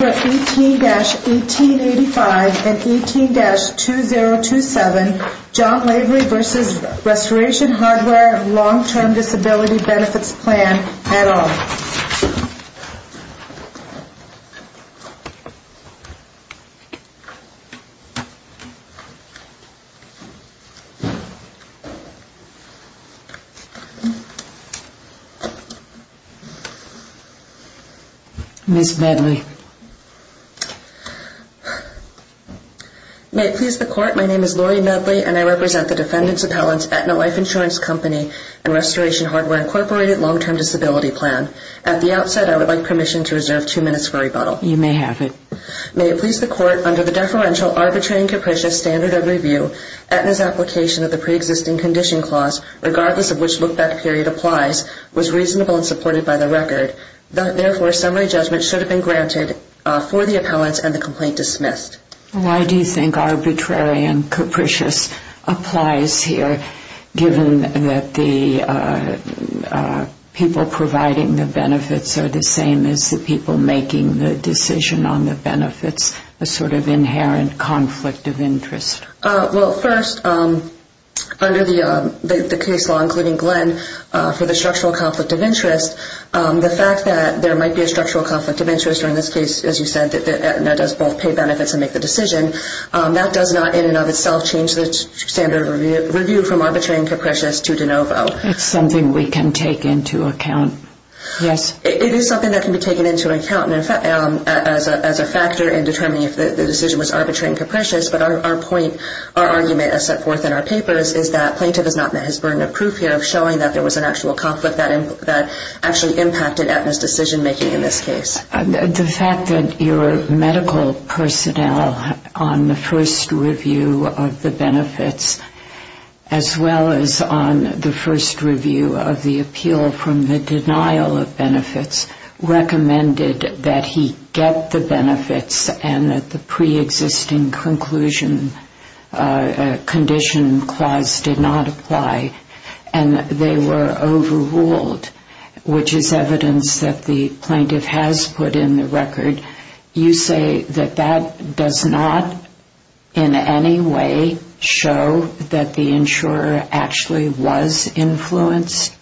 18-1885 and 18-2027, John Lavery v. Restoration Hardware Long-Term Disability Benefits Plan, et al. Ms. Medley. May it please the Court, my name is Lori Medley and I represent the defendant's appellant's Aetna Life Insurance Company and Restoration Hardware Incorporated Long-Term Disability Plan. At the outset, I would like permission to reserve two minutes for rebuttal. You may have it. May it please the Court, under the deferential, arbitrary and capricious standard of review, Aetna's application of the pre-existing condition clause, regardless of which look-back period applies, was reasonable and supported by the record. Therefore, summary judgment should have been granted for the appellant and the complaint dismissed. Why do you think arbitrary and capricious applies here, given that the people providing the benefits are the same as the people making the decision on the benefits, a sort of inherent conflict of interest? That does not in and of itself change the standard of review from arbitrary and capricious to de novo. It's something we can take into account, yes. It is something that can be taken into account as a factor in determining if the decision was arbitrary and capricious, but our point, our argument as set forth in our papers is that plaintiff has not met his burden of proof here of showing that there was an actual conflict that actually impacted Aetna's decision-making in this case. The fact that your medical personnel, on the first review of the benefits, as well as on the first review of the appeal from the denial of benefits, recommended that he get the benefits and that the pre-existing conclusion condition clause did not apply, and they were overruled, which is evidence that the plaintiff has met his burden of proof. You say that that does not in any way show that the insurer actually was influenced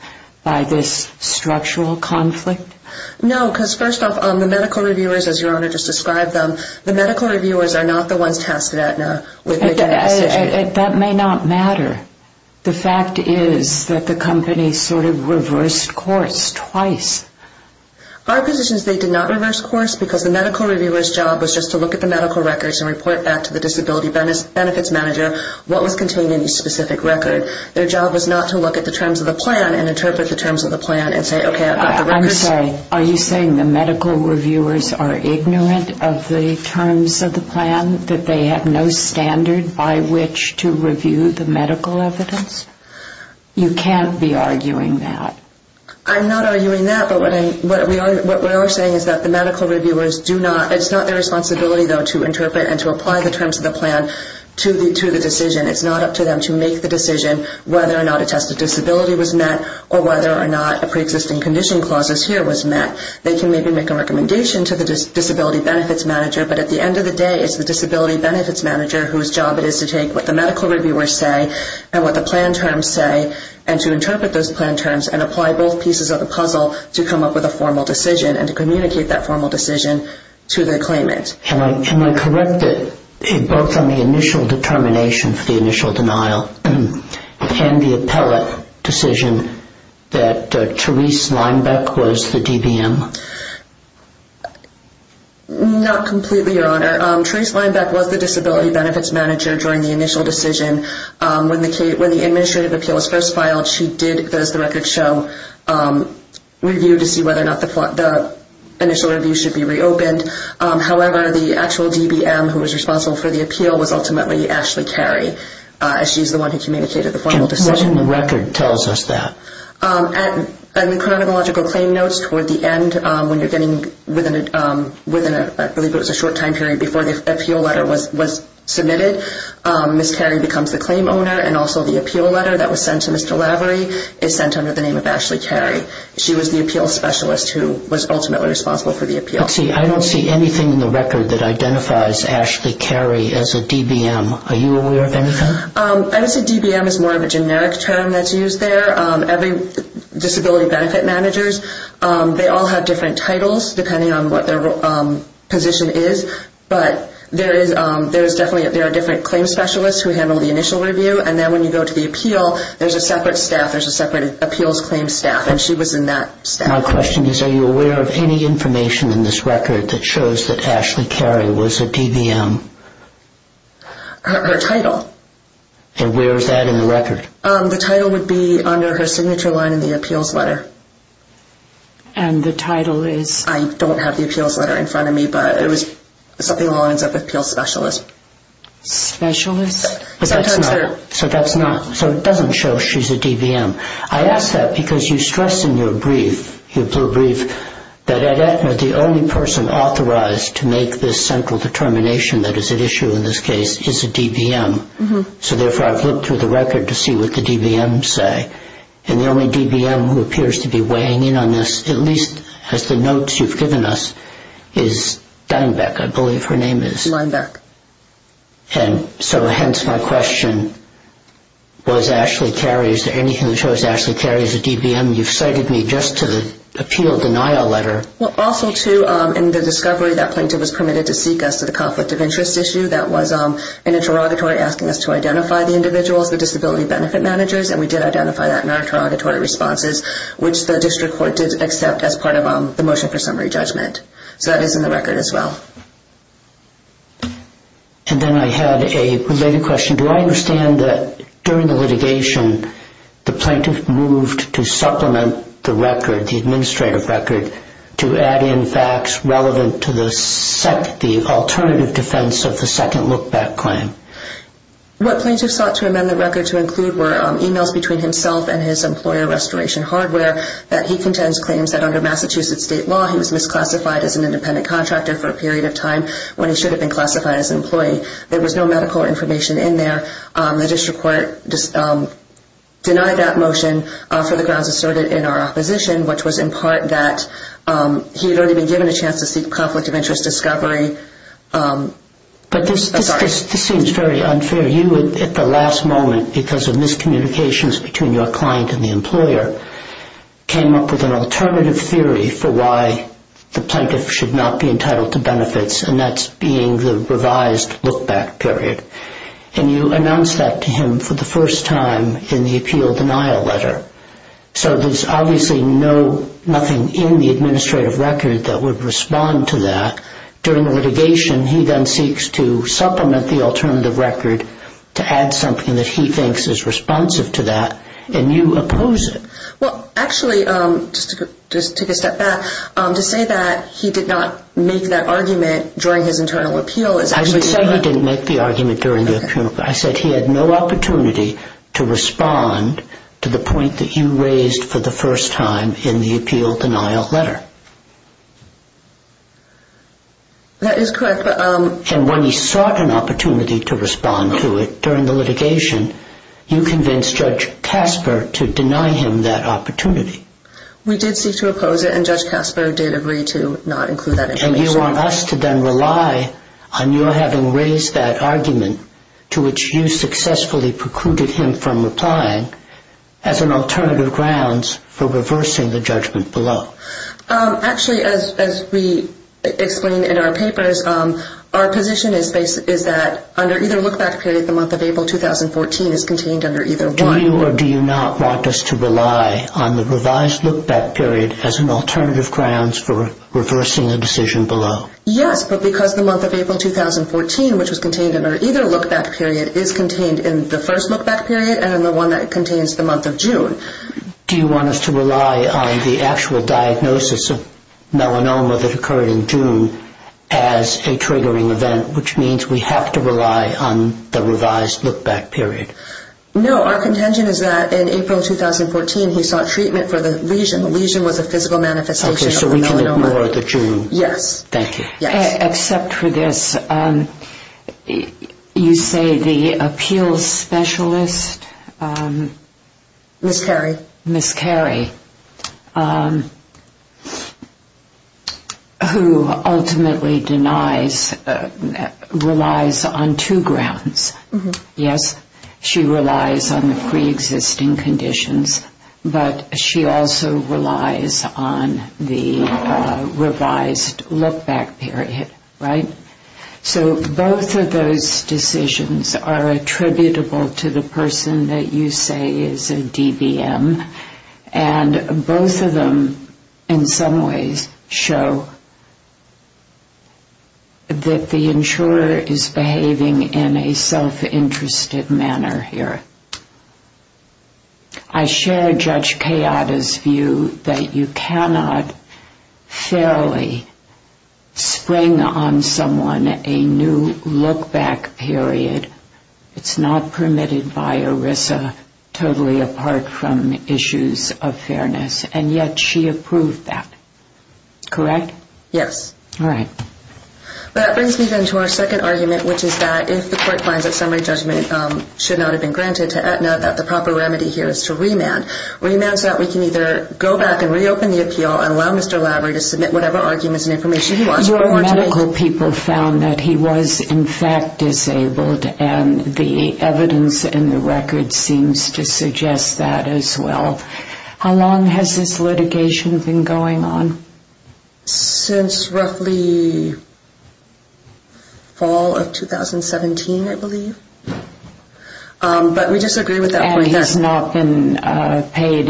by this structural conflict? No, because first off, the medical reviewers, as Your Honor just described them, the medical reviewers are not the ones tasked at Aetna with making that decision. That may not matter. The fact is that the company sort of reversed course twice. Our position is they did not reverse course because the medical reviewer's job was just to look at the medical records and report back to the disability benefits manager what was contained in each specific record. Their job was not to look at the terms of the plan and interpret the terms of the plan and say, okay, I've got the records. I'm sorry, are you saying the medical reviewers are ignorant of the terms of the plan, that they have no standard by which to review the medical evidence? You can't be arguing that. I'm not arguing that, but what we are saying is that the medical reviewers do not, it's not their responsibility, though, to interpret and to apply the terms of the plan to the decision. It's not up to them to make the decision whether or not a test of disability was met or whether or not a preexisting condition clause here was met. They can maybe make a recommendation to the disability benefits manager, but at the end of the day, it's the disability benefits manager whose job it is to take what the medical reviewers say and what the plan terms say and to interpret those plan terms and apply both pieces of the puzzle to come up with a formal decision and to communicate that formal decision to the claimant. Can I correct both on the initial determination for the initial denial and the appellate decision that Therese Linebeck was the DBM? Sure. Therese Linebeck was the disability benefits manager during the initial decision. When the administrative appeal was first filed, she did, as the records show, review to see whether or not the initial review should be reopened. However, the actual DBM who was responsible for the appeal was ultimately Ashley Carey, as she's the one who communicated the formal decision. What in the record tells us that? At the chronological claim notes toward the end, when you're getting within, I believe it was a short time period before the appeal letter was submitted, Ms. Carey becomes the claim owner and also the appeal letter that was sent to Mr. Lavery is sent under the name of Ashley Carey. She was the appeal specialist who was ultimately responsible for the appeal. I don't see anything in the record that identifies Ashley Carey as a DBM. Are you aware of anything? I would say DBM is more of a generic term that's used there. Disability benefit managers, they all have different titles depending on what their position is, but there are different claim specialists who handle the initial review. And then when you go to the appeal, there's a separate staff, there's a separate appeals claim staff, and she was in that staff. My question is, are you aware of any information in this record that shows that Ashley Carey was a DBM? Her title. And where is that in the record? The title would be under her signature line in the appeals letter. And the title is? I don't have the appeals letter in front of me, but it was something along the lines of appeal specialist. Specialist? So that's not, so it doesn't show she's a DBM. I ask that because you stress in your brief, your blue brief, that at Aetna, the only person authorized to make this central determination that is at issue in this case is a DBM. So therefore, I've looked through the record to see what the DBMs say. And the only DBM who appears to be weighing in on this, at least as the notes you've given us, is Steinbeck, I believe her name is. Steinbeck. And so hence my question, was Ashley Carey, is there anything that shows Ashley Carey is a DBM? You've cited me just to the appeal denial letter. Well, also to, in the discovery that plaintiff was permitted to seek us to the conflict of interest issue, that was in a interrogatory asking us to identify the individuals, the disability benefit managers, and we did identify that in our interrogatory responses, which the district court did accept as part of the motion for summary judgment. So that is in the record as well. And then I had a related question. Do I understand that during the litigation, the plaintiff moved to supplement the record, the administrative record, to add in facts relevant to the alternative defense of the second look back claim? What plaintiff sought to amend the record to include were emails between himself and his employer, Restoration Hardware, that he contends claims that under Massachusetts state law, he was misclassified as an independent contractor for a period of time when he should have been classified as an employee. There was no medical information in there. The district court denied that motion for the grounds asserted in our opposition, which was in part that he had already been given a chance to seek conflict of interest discovery. But this seems very unfair. You, at the last moment, because of miscommunications between your client and the employer, came up with an alternative theory for why the plaintiff should not be entitled to benefits, and that's being the revised look back period. And you announced that to him for the first time in the appeal denial letter. So there's obviously nothing in the administrative record that would respond to that. During the litigation, he then seeks to supplement the alternative record to add something that he thinks is responsive to that, and you oppose it. Well, actually, just to take a step back, to say that he did not make that argument during his internal appeal is actually incorrect. I didn't say he didn't make the argument during the appeal. I said he had no opportunity to respond to the point that you raised for the first time in the appeal denial letter. That is correct. And when he sought an opportunity to respond to it during the litigation, you convinced Judge Casper to deny him that opportunity. We did seek to oppose it, and Judge Casper did agree to not include that information. And you want us to then rely on your having raised that argument, to which you successfully precluded him from replying, as an alternative grounds for reversing the judgment below. Actually, as we explain in our papers, our position is that under either look-back period, the month of April 2014 is contained under either one. Do you or do you not want us to rely on the revised look-back period as an alternative grounds for reversing a decision below? Yes, but because the month of April 2014, which was contained under either look-back period, is contained in the first look-back period and in the one that contains the month of June. Do you want us to rely on the actual diagnosis of melanoma that occurred in June as a triggering event, which means we have to rely on the revised look-back period? No. Our contention is that in April 2014, he sought treatment for the lesion. The lesion was a physical manifestation of the melanoma. Okay. So we can ignore the June. Yes. Thank you. Yes. Except for this, you say the appeals specialist? Ms. Carey. Ms. Carey, who ultimately denies, relies on two grounds. Yes. She relies on the preexisting conditions, but she also relies on the revised look-back period, right? So both of those decisions are attributable to the person that you say is a DBM, and both of them in some ways show that the insurer is behaving in a self-interested manner here. I share Judge Kayada's view that you cannot fairly spring on someone a new look-back period. It's not permitted by ERISA, totally apart from issues of fairness, and yet she approved that. Correct? Yes. All right. That brings me then to our second argument, which is that if the court finds that summary judgment should not have been granted to Aetna, that the proper remedy here is to remand. Remand so that we can either go back and reopen the appeal and allow Mr. Lavery to submit whatever arguments and information he wants. Your medical people found that he was in fact disabled, and the evidence in the record seems to suggest that as well. How long has this litigation been going on? Since roughly fall of 2017, I believe. But we disagree with that point. And he's not been paid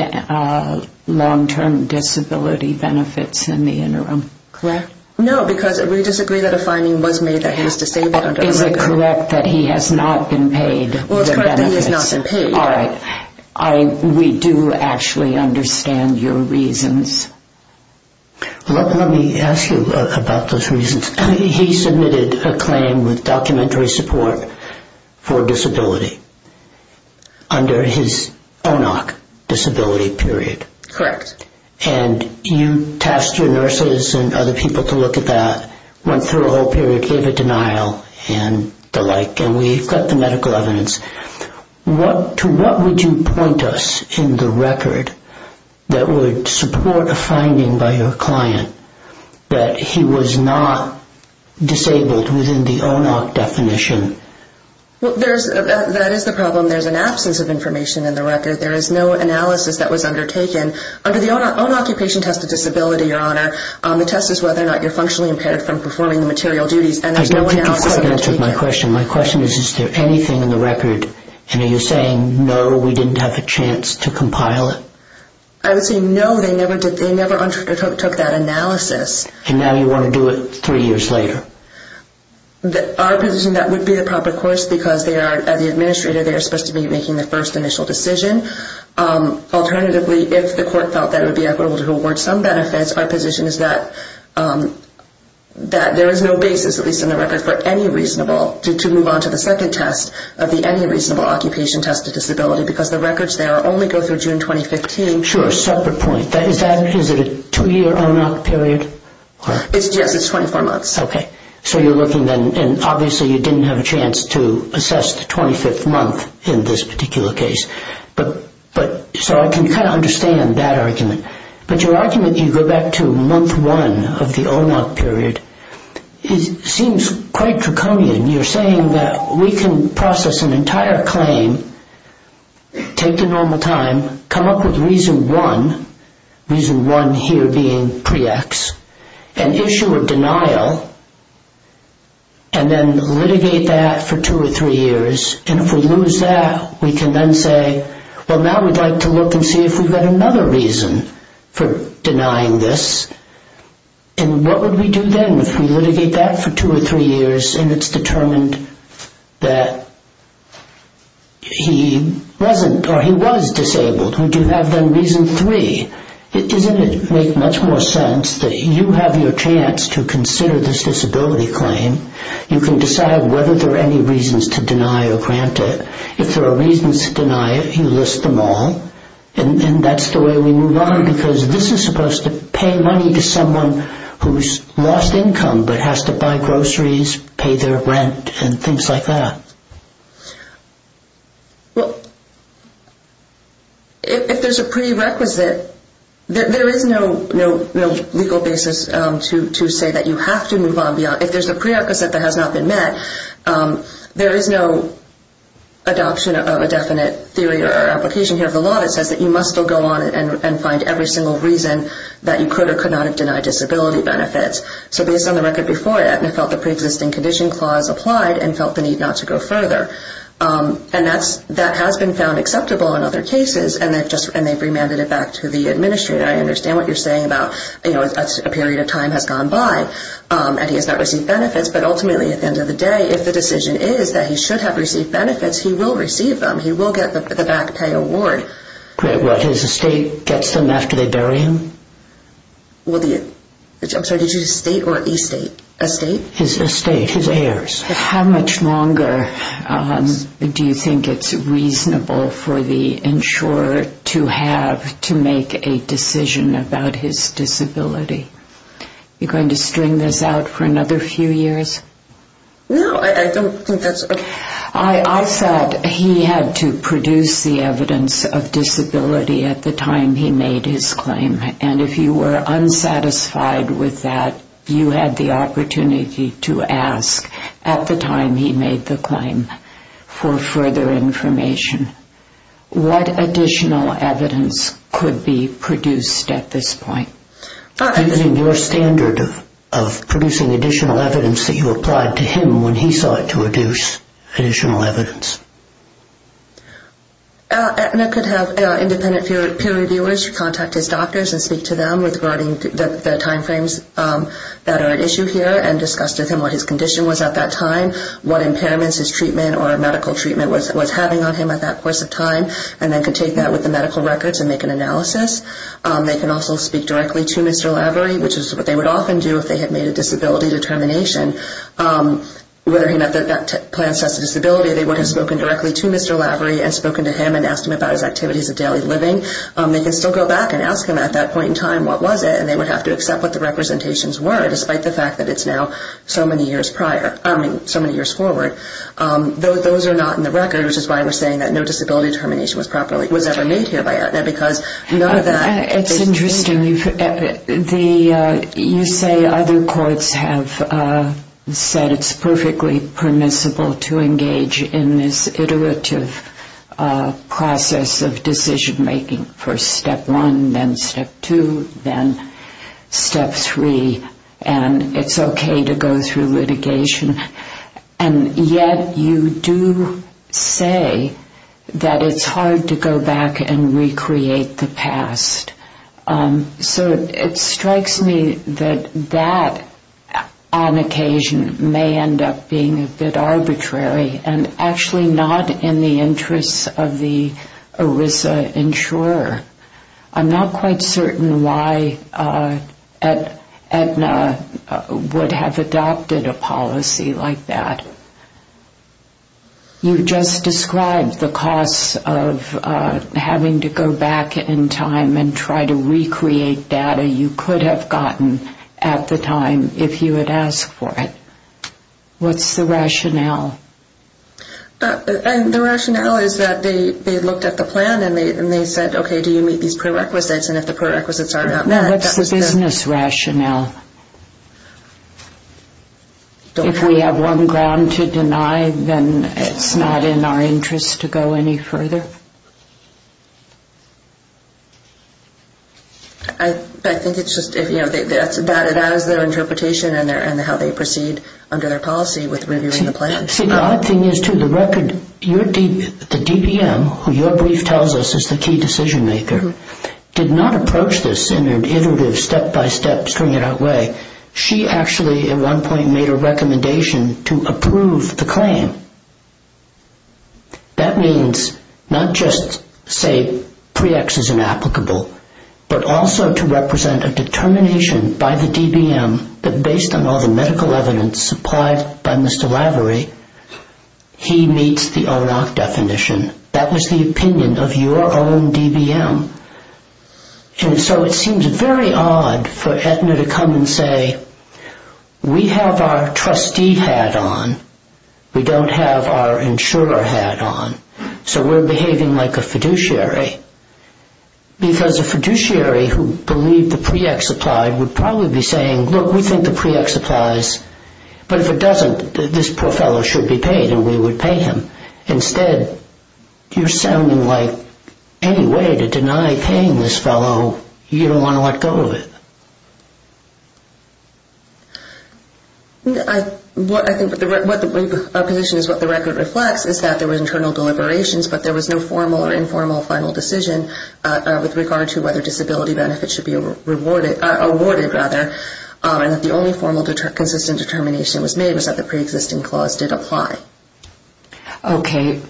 long-term disability benefits in the interim. No, because we disagree that a finding was made that he was disabled. Is it correct that he has not been paid the benefits? Well, it's correct that he has not been paid. All right. We do actually understand your reasons. Let me ask you about those reasons. He submitted a claim with documentary support for disability under his ONOC disability period. Correct. And you tasked your nurses and other people to look at that, went through a whole period, gave a denial and the like, and we got the medical evidence. To what would you point us in the record that would support a finding by your client that he was not disabled within the ONOC definition? Well, that is the problem. There's an absence of information in the record. There is no analysis that was undertaken. Under the own occupation test of disability, Your Honor, the test is whether or not you're functionally impaired from performing the material duties. I don't think you've quite answered my question. My question is, is there anything in the record, and are you saying, no, we didn't have a chance to compile it? I would say, no, they never undertook that analysis. And now you want to do it three years later? Our position, that would be the proper course because they are, as the administrator, they are supposed to be making the first initial decision. Alternatively, if the court felt that it would be equitable to award some benefits, our position is that there is no basis, at least in the record, for any reasonable, to move on to the second test of the any reasonable occupation test of disability because the records there only go through June 2015. Sure, separate point. Is that a two-year ONOC period? Yes, it's 24 months. Okay. So you're looking then, and obviously you didn't have a chance to assess the 25th month in this particular case. So I can kind of understand that argument. But your argument, you go back to month one of the ONOC period, seems quite draconian. You're saying that we can process an entire claim, take the normal time, come up with reason one, reason one here being pre-ex, an issue of denial, and then litigate that for two or three years. And if we lose that, we can then say, well, now we'd like to look and see if we've got another reason for denying this. And what would we do then if we litigate that for two or three years and it's determined that he wasn't or he was disabled? Would you have then reason three? Doesn't it make much more sense that you have your chance to consider this disability claim. You can decide whether there are any reasons to deny or grant it. If there are reasons to deny it, you list them all, and that's the way we move on. Because this is supposed to pay money to someone who's lost income but has to buy groceries, pay their rent, and things like that. Well, if there's a prerequisite, there is no legal basis to say that you have to move on. If there's a prerequisite that has not been met, there is no adoption of a definite theory or application here of the law that says that you must still go on and find every single reason that you could or could not have denied disability benefits. So based on the record before that, I felt the preexisting condition clause applied and felt the need not to go further. And that has been found acceptable in other cases, and they've remanded it back to the administrator. I understand what you're saying about a period of time has gone by and he has not received benefits. But ultimately, at the end of the day, if the decision is that he should have received benefits, he will receive them. He will get the back pay award. Great. Well, his estate gets them after they bury him? I'm sorry, did you say state or estate? Estate. His estate. His heirs. How much longer do you think it's reasonable for the insurer to have to make a decision about his disability? Are you going to string this out for another few years? No, I don't think that's... I thought he had to produce the evidence of disability at the time he made his claim. And if you were unsatisfied with that, you had the opportunity to ask at the time he made the claim for further information. What additional evidence could be produced at this point? Using your standard of producing additional evidence that you applied to him when he sought to produce additional evidence. Aetna could have independent peer reviewers contact his doctors and speak to them regarding the timeframes that are at issue here and discuss with him what his condition was at that time, what impairments his treatment or medical treatment was having on him at that course of time, and then could take that with the medical records and make an analysis. They can also speak directly to Mr. Lavery, which is what they would often do if they had made a disability determination. Whether he met that plan of test of disability, they would have spoken directly to Mr. Lavery and spoken to him and asked him about his activities of daily living. They can still go back and ask him at that point in time what was it, and they would have to accept what the representations were, despite the fact that it's now so many years forward. Those are not in the record, which is why we're saying that no disability determination was ever made here by Aetna, because none of that... It's interesting. You say other courts have said it's perfectly permissible to engage in this iterative process of decision-making, first step one, then step two, then step three, and it's okay to go through litigation. And yet you do say that it's hard to go back and recreate the past. So it strikes me that that, on occasion, may end up being a bit arbitrary and actually not in the interests of the ERISA insurer. I'm not quite certain why Aetna would have adopted a policy like that. You just described the cost of having to go back in time and try to recreate data you could have gotten at the time if you had asked for it. What's the rationale? The rationale is that they looked at the plan and they said, okay, do you meet these prerequisites? And if the prerequisites are not met... What's the business rationale? If we have one ground to deny, then it's not in our interest to go any further? I think it's just, you know, that is their interpretation and how they proceed under their policy with reviewing the plan. See, the odd thing is, too, the record, the DBM, who your brief tells us is the key decision-maker, did not approach this in an iterative, step-by-step, string-it-out way. She actually, at one point, made a recommendation to approve the claim. That means not just, say, pre-ex is inapplicable, but also to represent a determination by the DBM that, based on all the medical evidence supplied by Mr. Lavery, he meets the ONOC definition. That was the opinion of your own DBM. And so it seems very odd for Aetna to come and say, we have our trustee hat on, we don't have our insurer hat on, so we're behaving like a fiduciary, because a fiduciary who believed the pre-ex applied would probably be saying, look, we think the pre-ex applies, but if it doesn't, this poor fellow should be paid, and we would pay him. Instead, you're sounding like any way to deny paying this fellow, you don't want to let go of it. I think our position is what the record reflects, is that there were internal deliberations, but there was no formal or informal final decision with regard to whether disability benefits should be awarded. And that the only formal consistent determination was made was that the pre-existing clause did apply. Okay.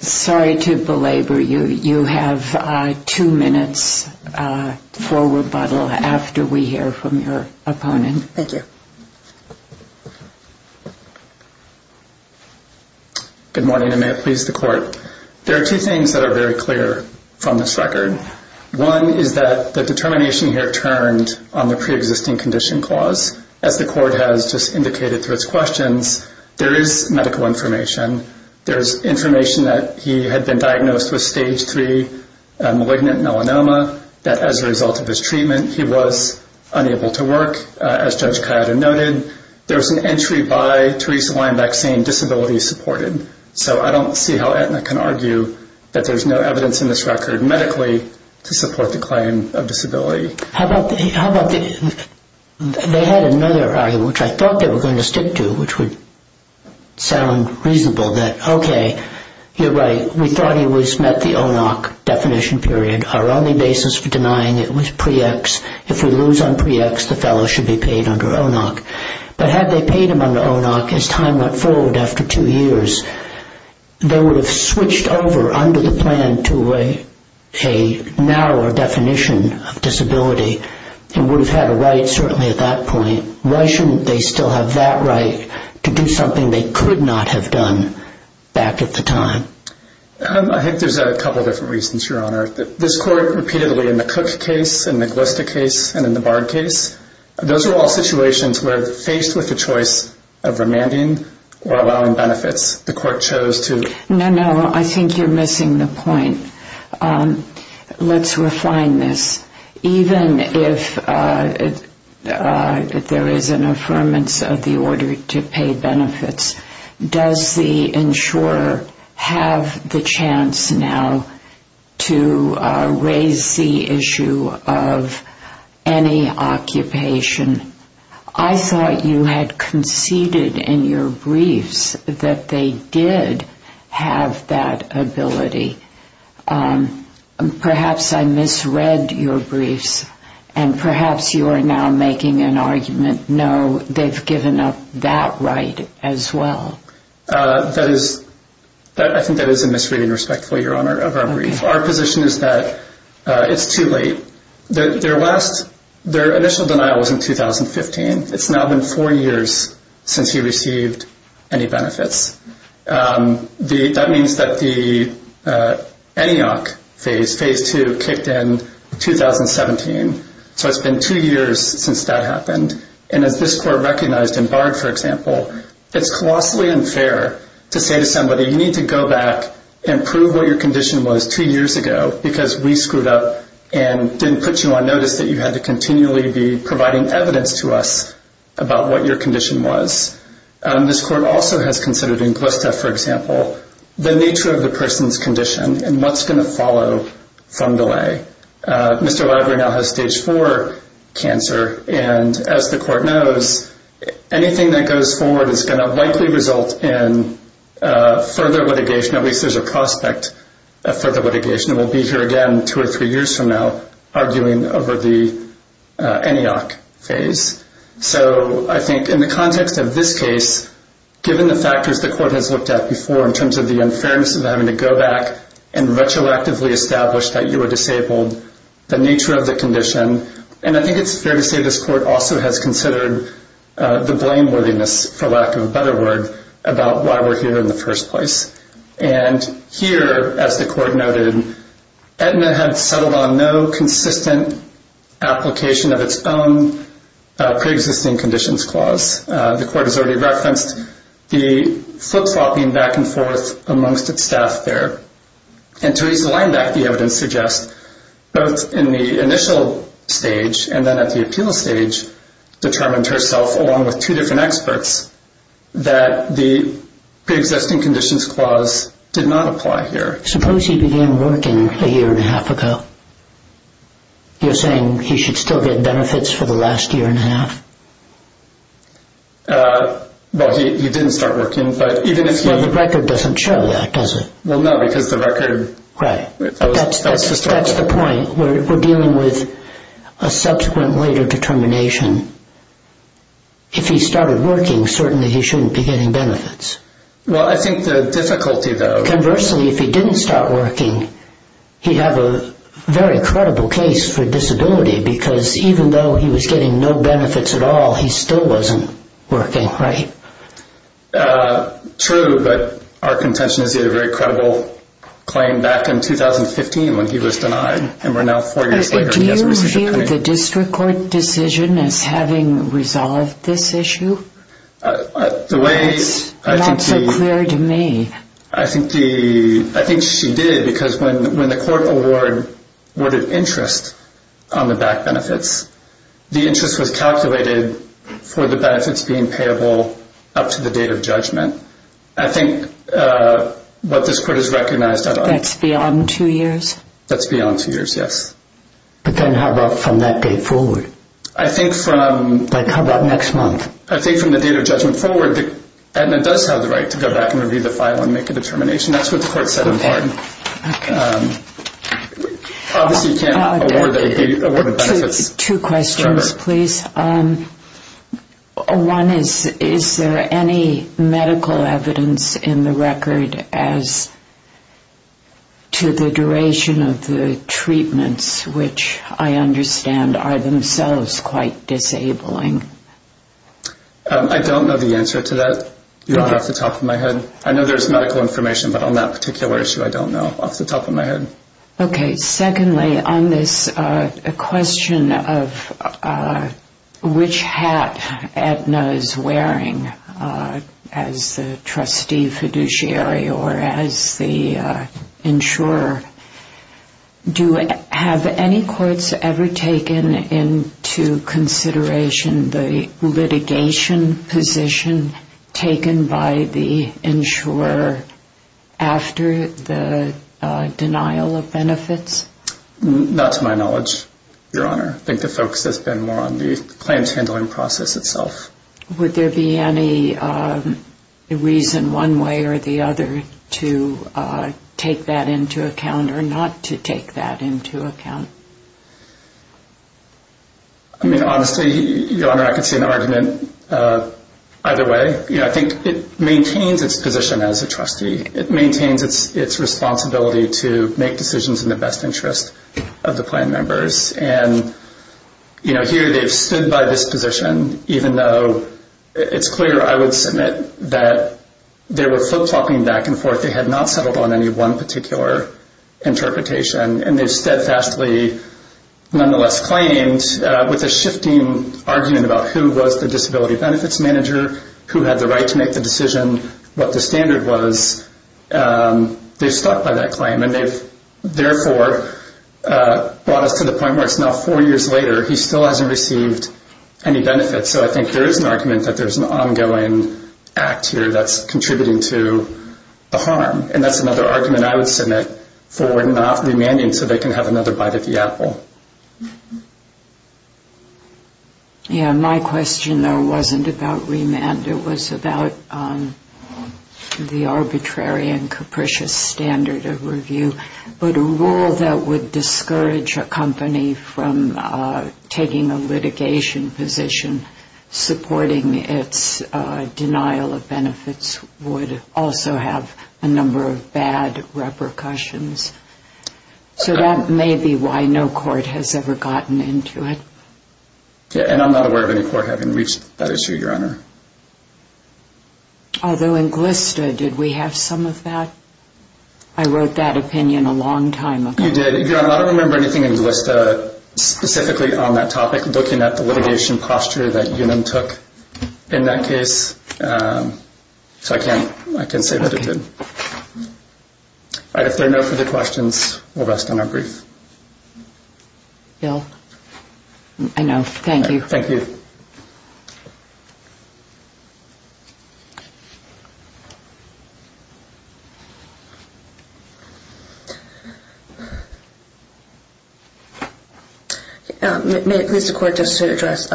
Sorry to belabor you. You have two minutes for rebuttal after we hear from your opponent. Thank you. Good morning, and may it please the Court. There are two things that are very clear from this record. One is that the determination here turned on the pre-existing condition clause. As the Court has just indicated through its questions, there is medical information. There's information that he had been diagnosed with stage 3 malignant melanoma, that as a result of his treatment, he was unable to work, as Judge Cuyata noted. There's an entry by Theresa Weinbach saying disability is supported. So I don't see how Aetna can argue that there's no evidence in this record medically to support the claim of disability. How about they had another argument, which I thought they were going to stick to, which would sound reasonable, that okay, you're right, we thought he was met the ONOC definition period. Our only basis for denying it was pre-ex. If we lose on pre-ex, the fellow should be paid under ONOC. But had they paid him under ONOC as time went forward after two years, they would have switched over under the plan to a narrower definition of disability and would have had a right certainly at that point. Why shouldn't they still have that right to do something they could not have done back at the time? I think there's a couple of different reasons, Your Honor. This court repeatedly in the Cook case, in the Glista case, and in the Bard case, those are all situations where faced with the choice of remanding or allowing benefits, the court chose to... No, no, I think you're missing the point. Let's refine this. Even if there is an affirmance of the order to pay benefits, does the insurer have the chance now to raise the issue of any occupation? I thought you had conceded in your briefs that they did have that ability. Perhaps I misread your briefs, and perhaps you are now making an argument, no, they've given up that right as well. I think that is a misreading, respectfully, Your Honor, of our brief. Our position is that it's too late. Their initial denial was in 2015. It's now been four years since he received any benefits. That means that the ENEOC phase, phase two, kicked in 2017. So it's been two years since that happened. And as this court recognized in Bard, for example, it's colossally unfair to say to somebody, you need to go back and prove what your condition was two years ago because we screwed up and didn't put you on notice that you had to continually be providing evidence to us about what your condition was. This court also has considered in Glista, for example, the nature of the person's condition and what's going to follow from delay. Mr. Library now has stage four cancer, and as the court knows, anything that goes forward is going to likely result in further litigation. At least there's a prospect of further litigation. We'll be here again two or three years from now arguing over the ENEOC phase. So I think in the context of this case, given the factors the court has looked at before in terms of the unfairness of having to go back and retroactively establish that you were disabled, the nature of the condition, and I think it's fair to say this court also has considered the blameworthiness, for lack of a better word, about why we're here in the first place. And here, as the court noted, Aetna had settled on no consistent application of its own preexisting conditions clause. The court has already referenced the flip-flopping back and forth amongst its staff there. And to raise the line back, the evidence suggests both in the initial stage and then at the appeal stage determined herself, along with two different experts, that the preexisting conditions clause did not apply here. Suppose he began working a year and a half ago. You're saying he should still get benefits for the last year and a half? Well, he didn't start working, but even if he... Well, the record doesn't show that, does it? Well, no, because the record... Right. That's the point. We're dealing with a subsequent later determination. If he started working, certainly he shouldn't be getting benefits. Well, I think the difficulty, though... Conversely, if he didn't start working, he'd have a very credible case for disability because even though he was getting no benefits at all, he still wasn't working, right? True, but our contention is he had a very credible claim back in 2015 when he was denied. Do you feel the district court decision as having resolved this issue? It's not so clear to me. I think she did because when the court awarded interest on the back benefits, the interest was calculated for the benefits being payable up to the date of judgment. I think what this court has recognized... That's beyond two years? That's beyond two years, yes. But then how about from that date forward? I think from... Like, how about next month? I think from the date of judgment forward, the admin does have the right to go back and review the file and make a determination. That's what the court said in part. Okay. Obviously, you can't award... Two questions, please. One is, is there any medical evidence in the record as to the duration of the treatments, which I understand are themselves quite disabling? I don't know the answer to that off the top of my head. I know there's medical information, but on that particular issue, I don't know off the top of my head. Okay. Secondly, on this question of which hat Aetna is wearing as the trustee fiduciary or as the insurer, do you have any courts ever taken into consideration the litigation position taken by the insurer after the denial of benefits? Not to my knowledge, Your Honor. I think the focus has been more on the claims handling process itself. Would there be any reason one way or the other to take that into account or not to take that into account? I mean, honestly, Your Honor, I could see an argument either way. I think it maintains its position as a trustee. It maintains its responsibility to make decisions in the best interest of the plan members. And here they've stood by this position, even though it's clear, I would submit, that they were flip-flopping back and forth. They had not settled on any one particular interpretation, and they've steadfastly, nonetheless, claimed with a shifting argument about who was the disability benefits manager, who had the right to make the decision, what the standard was. They've stopped by that claim, and they've therefore brought us to the point where it's now four years later. He still hasn't received any benefits. So I think there is an argument that there's an ongoing act here that's contributing to the harm. And that's another argument I would submit for not remanding so they can have another bite of the apple. Yeah, my question, though, wasn't about remand. It was about the arbitrary and capricious standard of review. But a rule that would discourage a company from taking a litigation position supporting its denial of benefits would also have a number of bad repercussions. So that may be why no court has ever gotten into it. And I'm not aware of any court having reached that issue, Your Honor. Although in GLSTA, did we have some of that? I wrote that opinion a long time ago. You did. Your Honor, I don't remember anything in GLSTA specifically on that topic looking at the litigation posture that you then took in that case. So I can't say that it did. All right, if there are no further questions, we'll rest on our brief. Bill, I know. Thank you. Thank you. May it please the Court just to address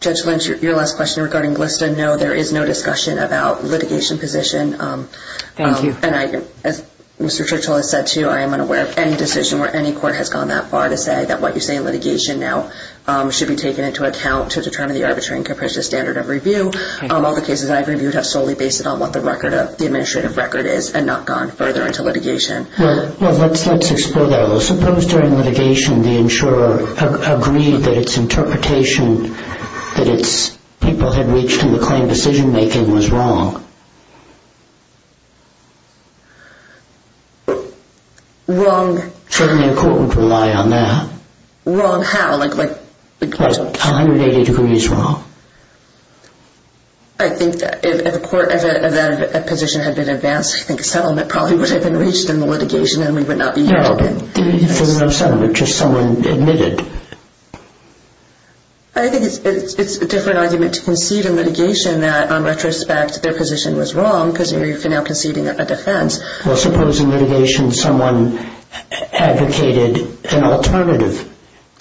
Judge Lynch, your last question regarding GLSTA? No, there is no discussion about litigation position. Thank you. And as Mr. Churchill has said, too, I am unaware of any decision where any court has gone that far to say that what you say in litigation now should be taken into account to determine the arbitrary and capricious standard of review. All the cases I've reviewed have solely based it on what the record of the administrative record is and not gone further into litigation. Well, let's explore that a little. Suppose during litigation the insurer agreed that its interpretation that its people had reached in the claim decision-making was wrong. Wrong. Certainly a court would rely on that. Wrong how? What, 180 degrees wrong? I think that if the court of that position had been advanced, I think a settlement probably would have been reached in the litigation and we would not be here today. No, there's no settlement, just someone admitted. I think it's a different argument to concede in litigation that, on retrospect, their position was wrong because you're now conceding a defense. Well, suppose in litigation someone advocated an alternative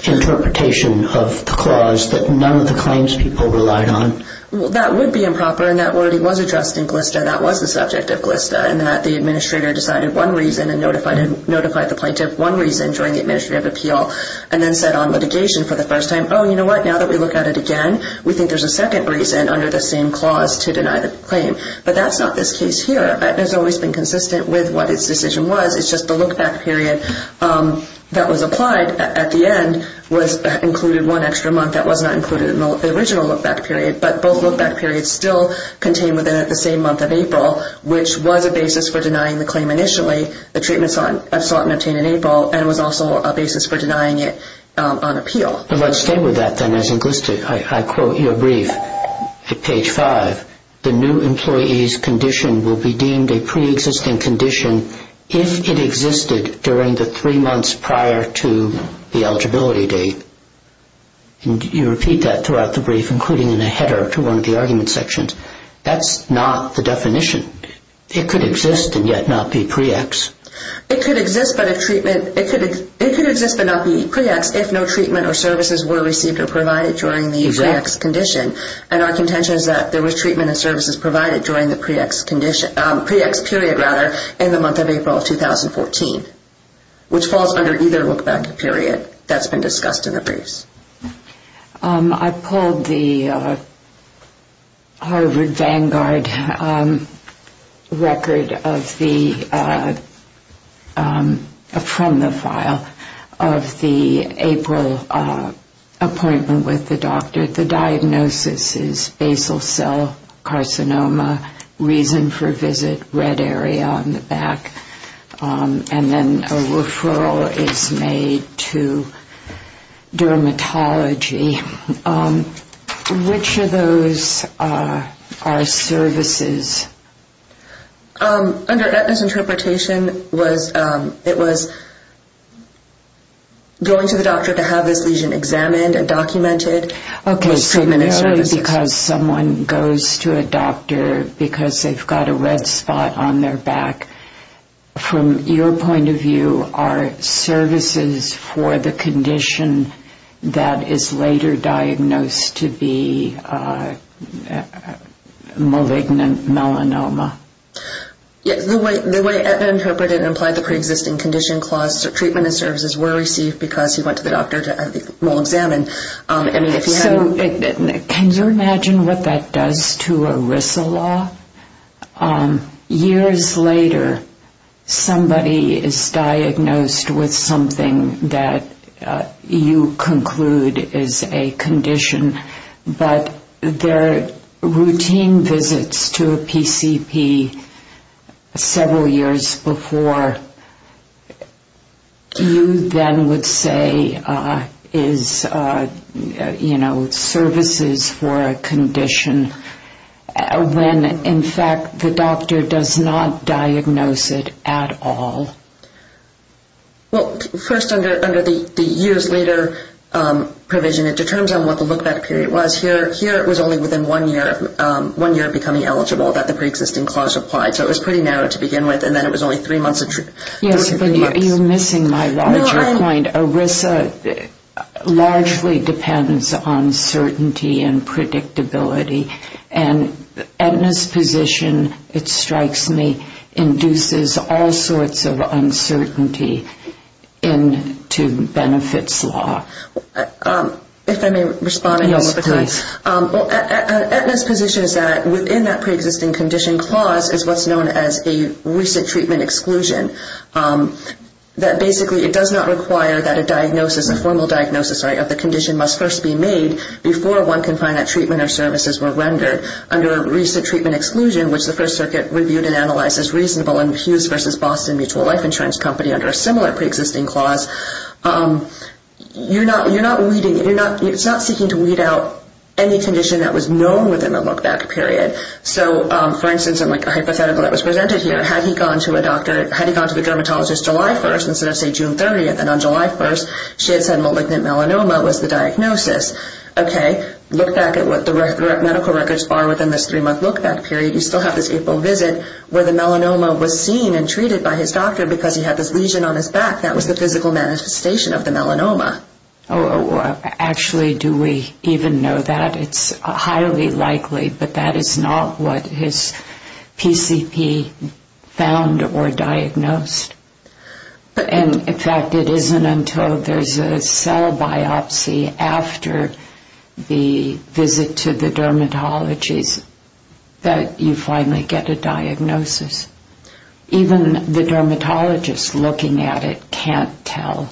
interpretation of the clause that none of the claims people relied on? Well, that would be improper, and that already was addressed in GLSTA. That was the subject of GLSTA in that the administrator decided one reason and notified the plaintiff one reason during the administrative appeal and then said on litigation for the first time, oh, you know what, now that we look at it again, we think there's a second reason under the same clause to deny the claim. But that's not this case here. GLSTA has always been consistent with what its decision was. It's just the look-back period that was applied at the end included one extra month. That was not included in the original look-back period, but both look-back periods still contain within it the same month of April, which was a basis for denying the claim initially, the treatment sought and obtained in April, and was also a basis for denying it on appeal. Let's stay with that, then, as in GLSTA. I quote your brief at page 5. The new employee's condition will be deemed a pre-existing condition if it existed during the three months prior to the eligibility date. You repeat that throughout the brief, including in a header to one of the argument sections. That's not the definition. It could exist and yet not be pre-ex. It could exist but not be pre-ex unless if no treatment or services were received or provided during the pre-ex condition, and our contention is that there was treatment and services provided during the pre-ex period in the month of April of 2014, which falls under either look-back period that's been discussed in the briefs. I pulled the Harvard Vanguard record from the file of the April appointment with the doctor. The diagnosis is basal cell carcinoma, reason for visit, red area on the back, and then a referral is made to dermatology. Which of those are services? Under Etna's interpretation, it was going to the doctor to have this lesion examined and documented. Because someone goes to a doctor because they've got a red spot on their back, from your point of view, are services for the condition that is later diagnosed to be malignant melanoma? The way Etna interpreted and implied the pre-existing condition, treatment and services were received because he went to the doctor to have it examined. Can you imagine what that does to ERISA law? Years later, somebody is diagnosed with something that you conclude is a condition, but their routine visits to a PCP several years before, you then would say is services for a condition when, in fact, the doctor does not diagnose it at all. First, under the years later provision, it determines what the look-back period was. Here, it was only within one year of becoming eligible that the pre-existing clause applied. So it was pretty narrow to begin with, and then it was only three months. You're missing my larger point. ERISA largely depends on certainty and predictability. Etna's position, it strikes me, induces all sorts of uncertainty into benefits law. If I may respond, Etna's position is that within that pre-existing condition clause is what's known as a recent treatment exclusion. Basically, it does not require that a formal diagnosis of the condition must first be made before one can find that treatment or services were rendered. Under a recent treatment exclusion, which the First Circuit reviewed and analyzed as reasonable in Hughes v. Boston Mutual Life Insurance Company under a similar pre-existing clause, it's not seeking to weed out any condition that was known within the look-back period. For instance, a hypothetical that was presented here, had he gone to the dermatologist July 1st instead of, say, June 30th, and on July 1st she had said malignant melanoma was the diagnosis. Okay, look back at what the medical records are within this three-month look-back period. You still have this April visit where the melanoma was seen and treated by his doctor because he had this lesion on his back. That was the physical manifestation of the melanoma. Actually, do we even know that? It's highly likely, but that is not what his PCP found or diagnosed. In fact, it isn't until there's a cell biopsy after the visit to the dermatologist that you finally get a diagnosis. Even the dermatologist looking at it can't tell.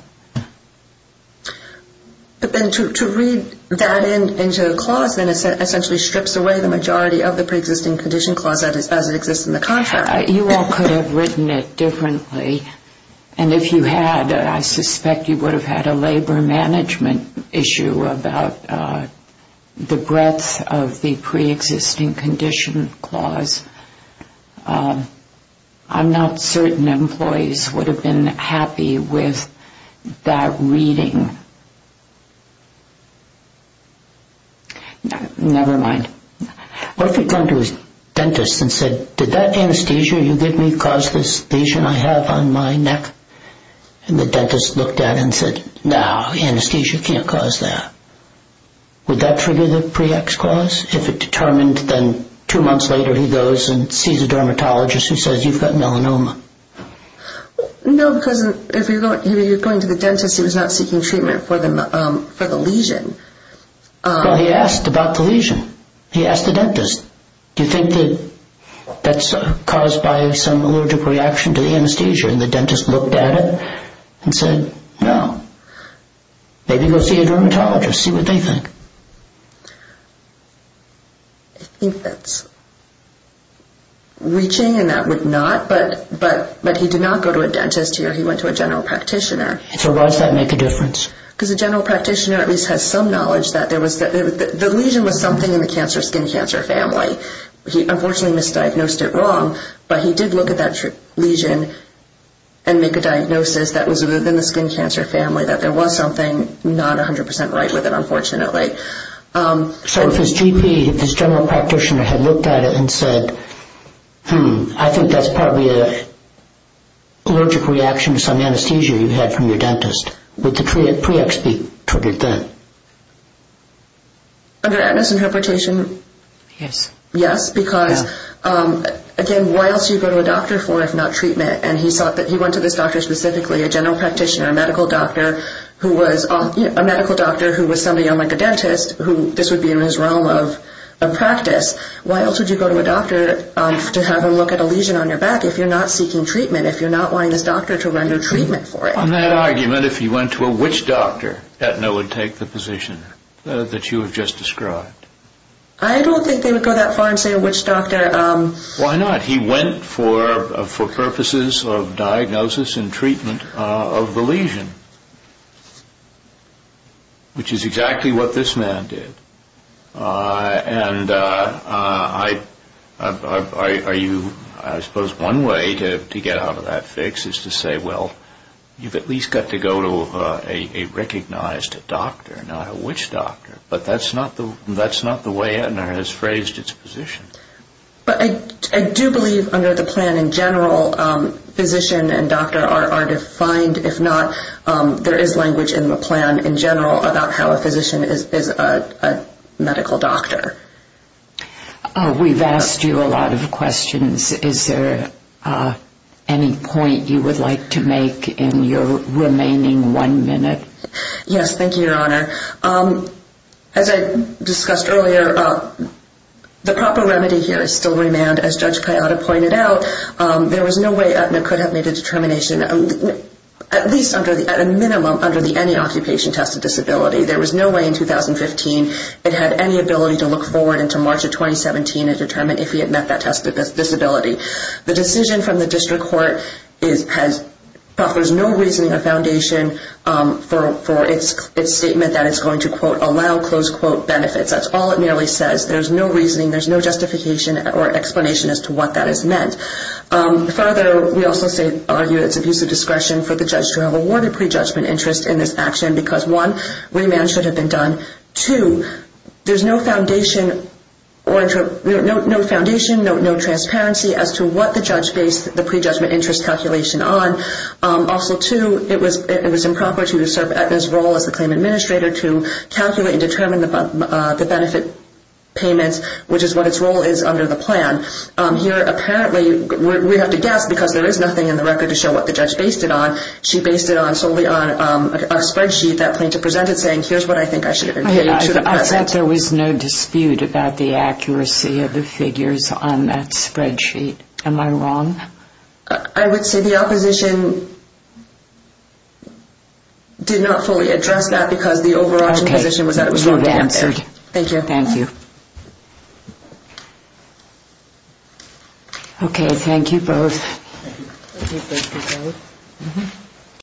But then to read that into a clause then essentially strips away the majority of the pre-existing condition clause as it exists in the contract. You all could have written it differently, and if you had I suspect you would have had a labor management issue about the breadth of the pre-existing condition clause. I'm not certain employees would have been happy with that reading. Never mind. What if he'd gone to his dentist and said, did that anesthesia you gave me cause this lesion I have on my neck? And the dentist looked at it and said, no, anesthesia can't cause that. Would that trigger the pre-ex clause? If it determined, then two months later he goes and sees a dermatologist who says you've got melanoma. No, because if you're going to the dentist, he was not seeking treatment for the lesion. Well, he asked about the lesion. He asked the dentist, do you think that that's caused by some allergic reaction to the anesthesia, and the dentist looked at it and said, no. Maybe go see a dermatologist, see what they think. I think that's reaching and that would not, but he did not go to a dentist here. He went to a general practitioner. So why does that make a difference? Because a general practitioner at least has some knowledge that there was, the lesion was something in the skin cancer family. He unfortunately misdiagnosed it wrong, but he did look at that lesion and make a diagnosis that was within the skin cancer family, that there was something not 100% right with it, unfortunately. So if his GP, if his general practitioner had looked at it and said, hmm, I think that's probably an allergic reaction to some anesthesia you had from your dentist, would the pre-ex be treated then? Under atlas interpretation, yes, because again, why else would you go to a doctor for if not treatment? And he went to this doctor specifically, a general practitioner, a medical doctor who was somebody unlike a dentist, this would be in his realm of practice. Why else would you go to a doctor to have him look at a lesion on your back if you're not seeking treatment, if you're not wanting this doctor to render treatment for it? On that argument, if he went to a witch doctor, that would take the position that you have just described. I don't think they would go that far and say a witch doctor. Why not? He went for purposes of diagnosis and treatment of the lesion, which is exactly what this man did. And I suppose one way to get out of that fix is to say, well, you've at least got to go to a recognized doctor, not a witch doctor. But that's not the way Aetna has phrased its position. But I do believe under the plan in general, physician and doctor are defined. If not, there is language in the plan in general about how a physician is a medical doctor. We've asked you a lot of questions. Is there any point you would like to make in your remaining one minute? Yes, thank you, Your Honor. As I discussed earlier, the proper remedy here is still remand. As Judge Piatta pointed out, there was no way Aetna could have made a determination. At least at a minimum under the any occupation test of disability. There was no way in 2015 it had any ability to look forward into March of 2017 and determine if he had met that test of disability. The decision from the district court offers no reasoning or foundation for its statement that it's going to, quote, allow, close quote, benefits. That's all it merely says. There's no reasoning. There's no justification or explanation as to what that is meant. Further, we also argue it's abuse of discretion for the judge to have awarded prejudgment interest in this action because one, remand should have been done. Two, there's no foundation, no transparency as to what the judge based the prejudgment interest calculation on. Also, two, it was improper to serve Aetna's role as the claim administrator to calculate and determine the benefit payments, which is what its role is under the plan. Here, apparently, we have to guess because there is nothing in the record to show what the judge based it on. She based it solely on a spreadsheet that plaintiff presented saying, here's what I think I should have been paid to the present. I thought there was no dispute about the accuracy of the figures on that spreadsheet. Am I wrong? I would say the opposition did not fully address that because the overarching position was that it was wrong to answer. Thank you. Thank you. Okay, thank you both. Thank you. Thank you. Thank you both.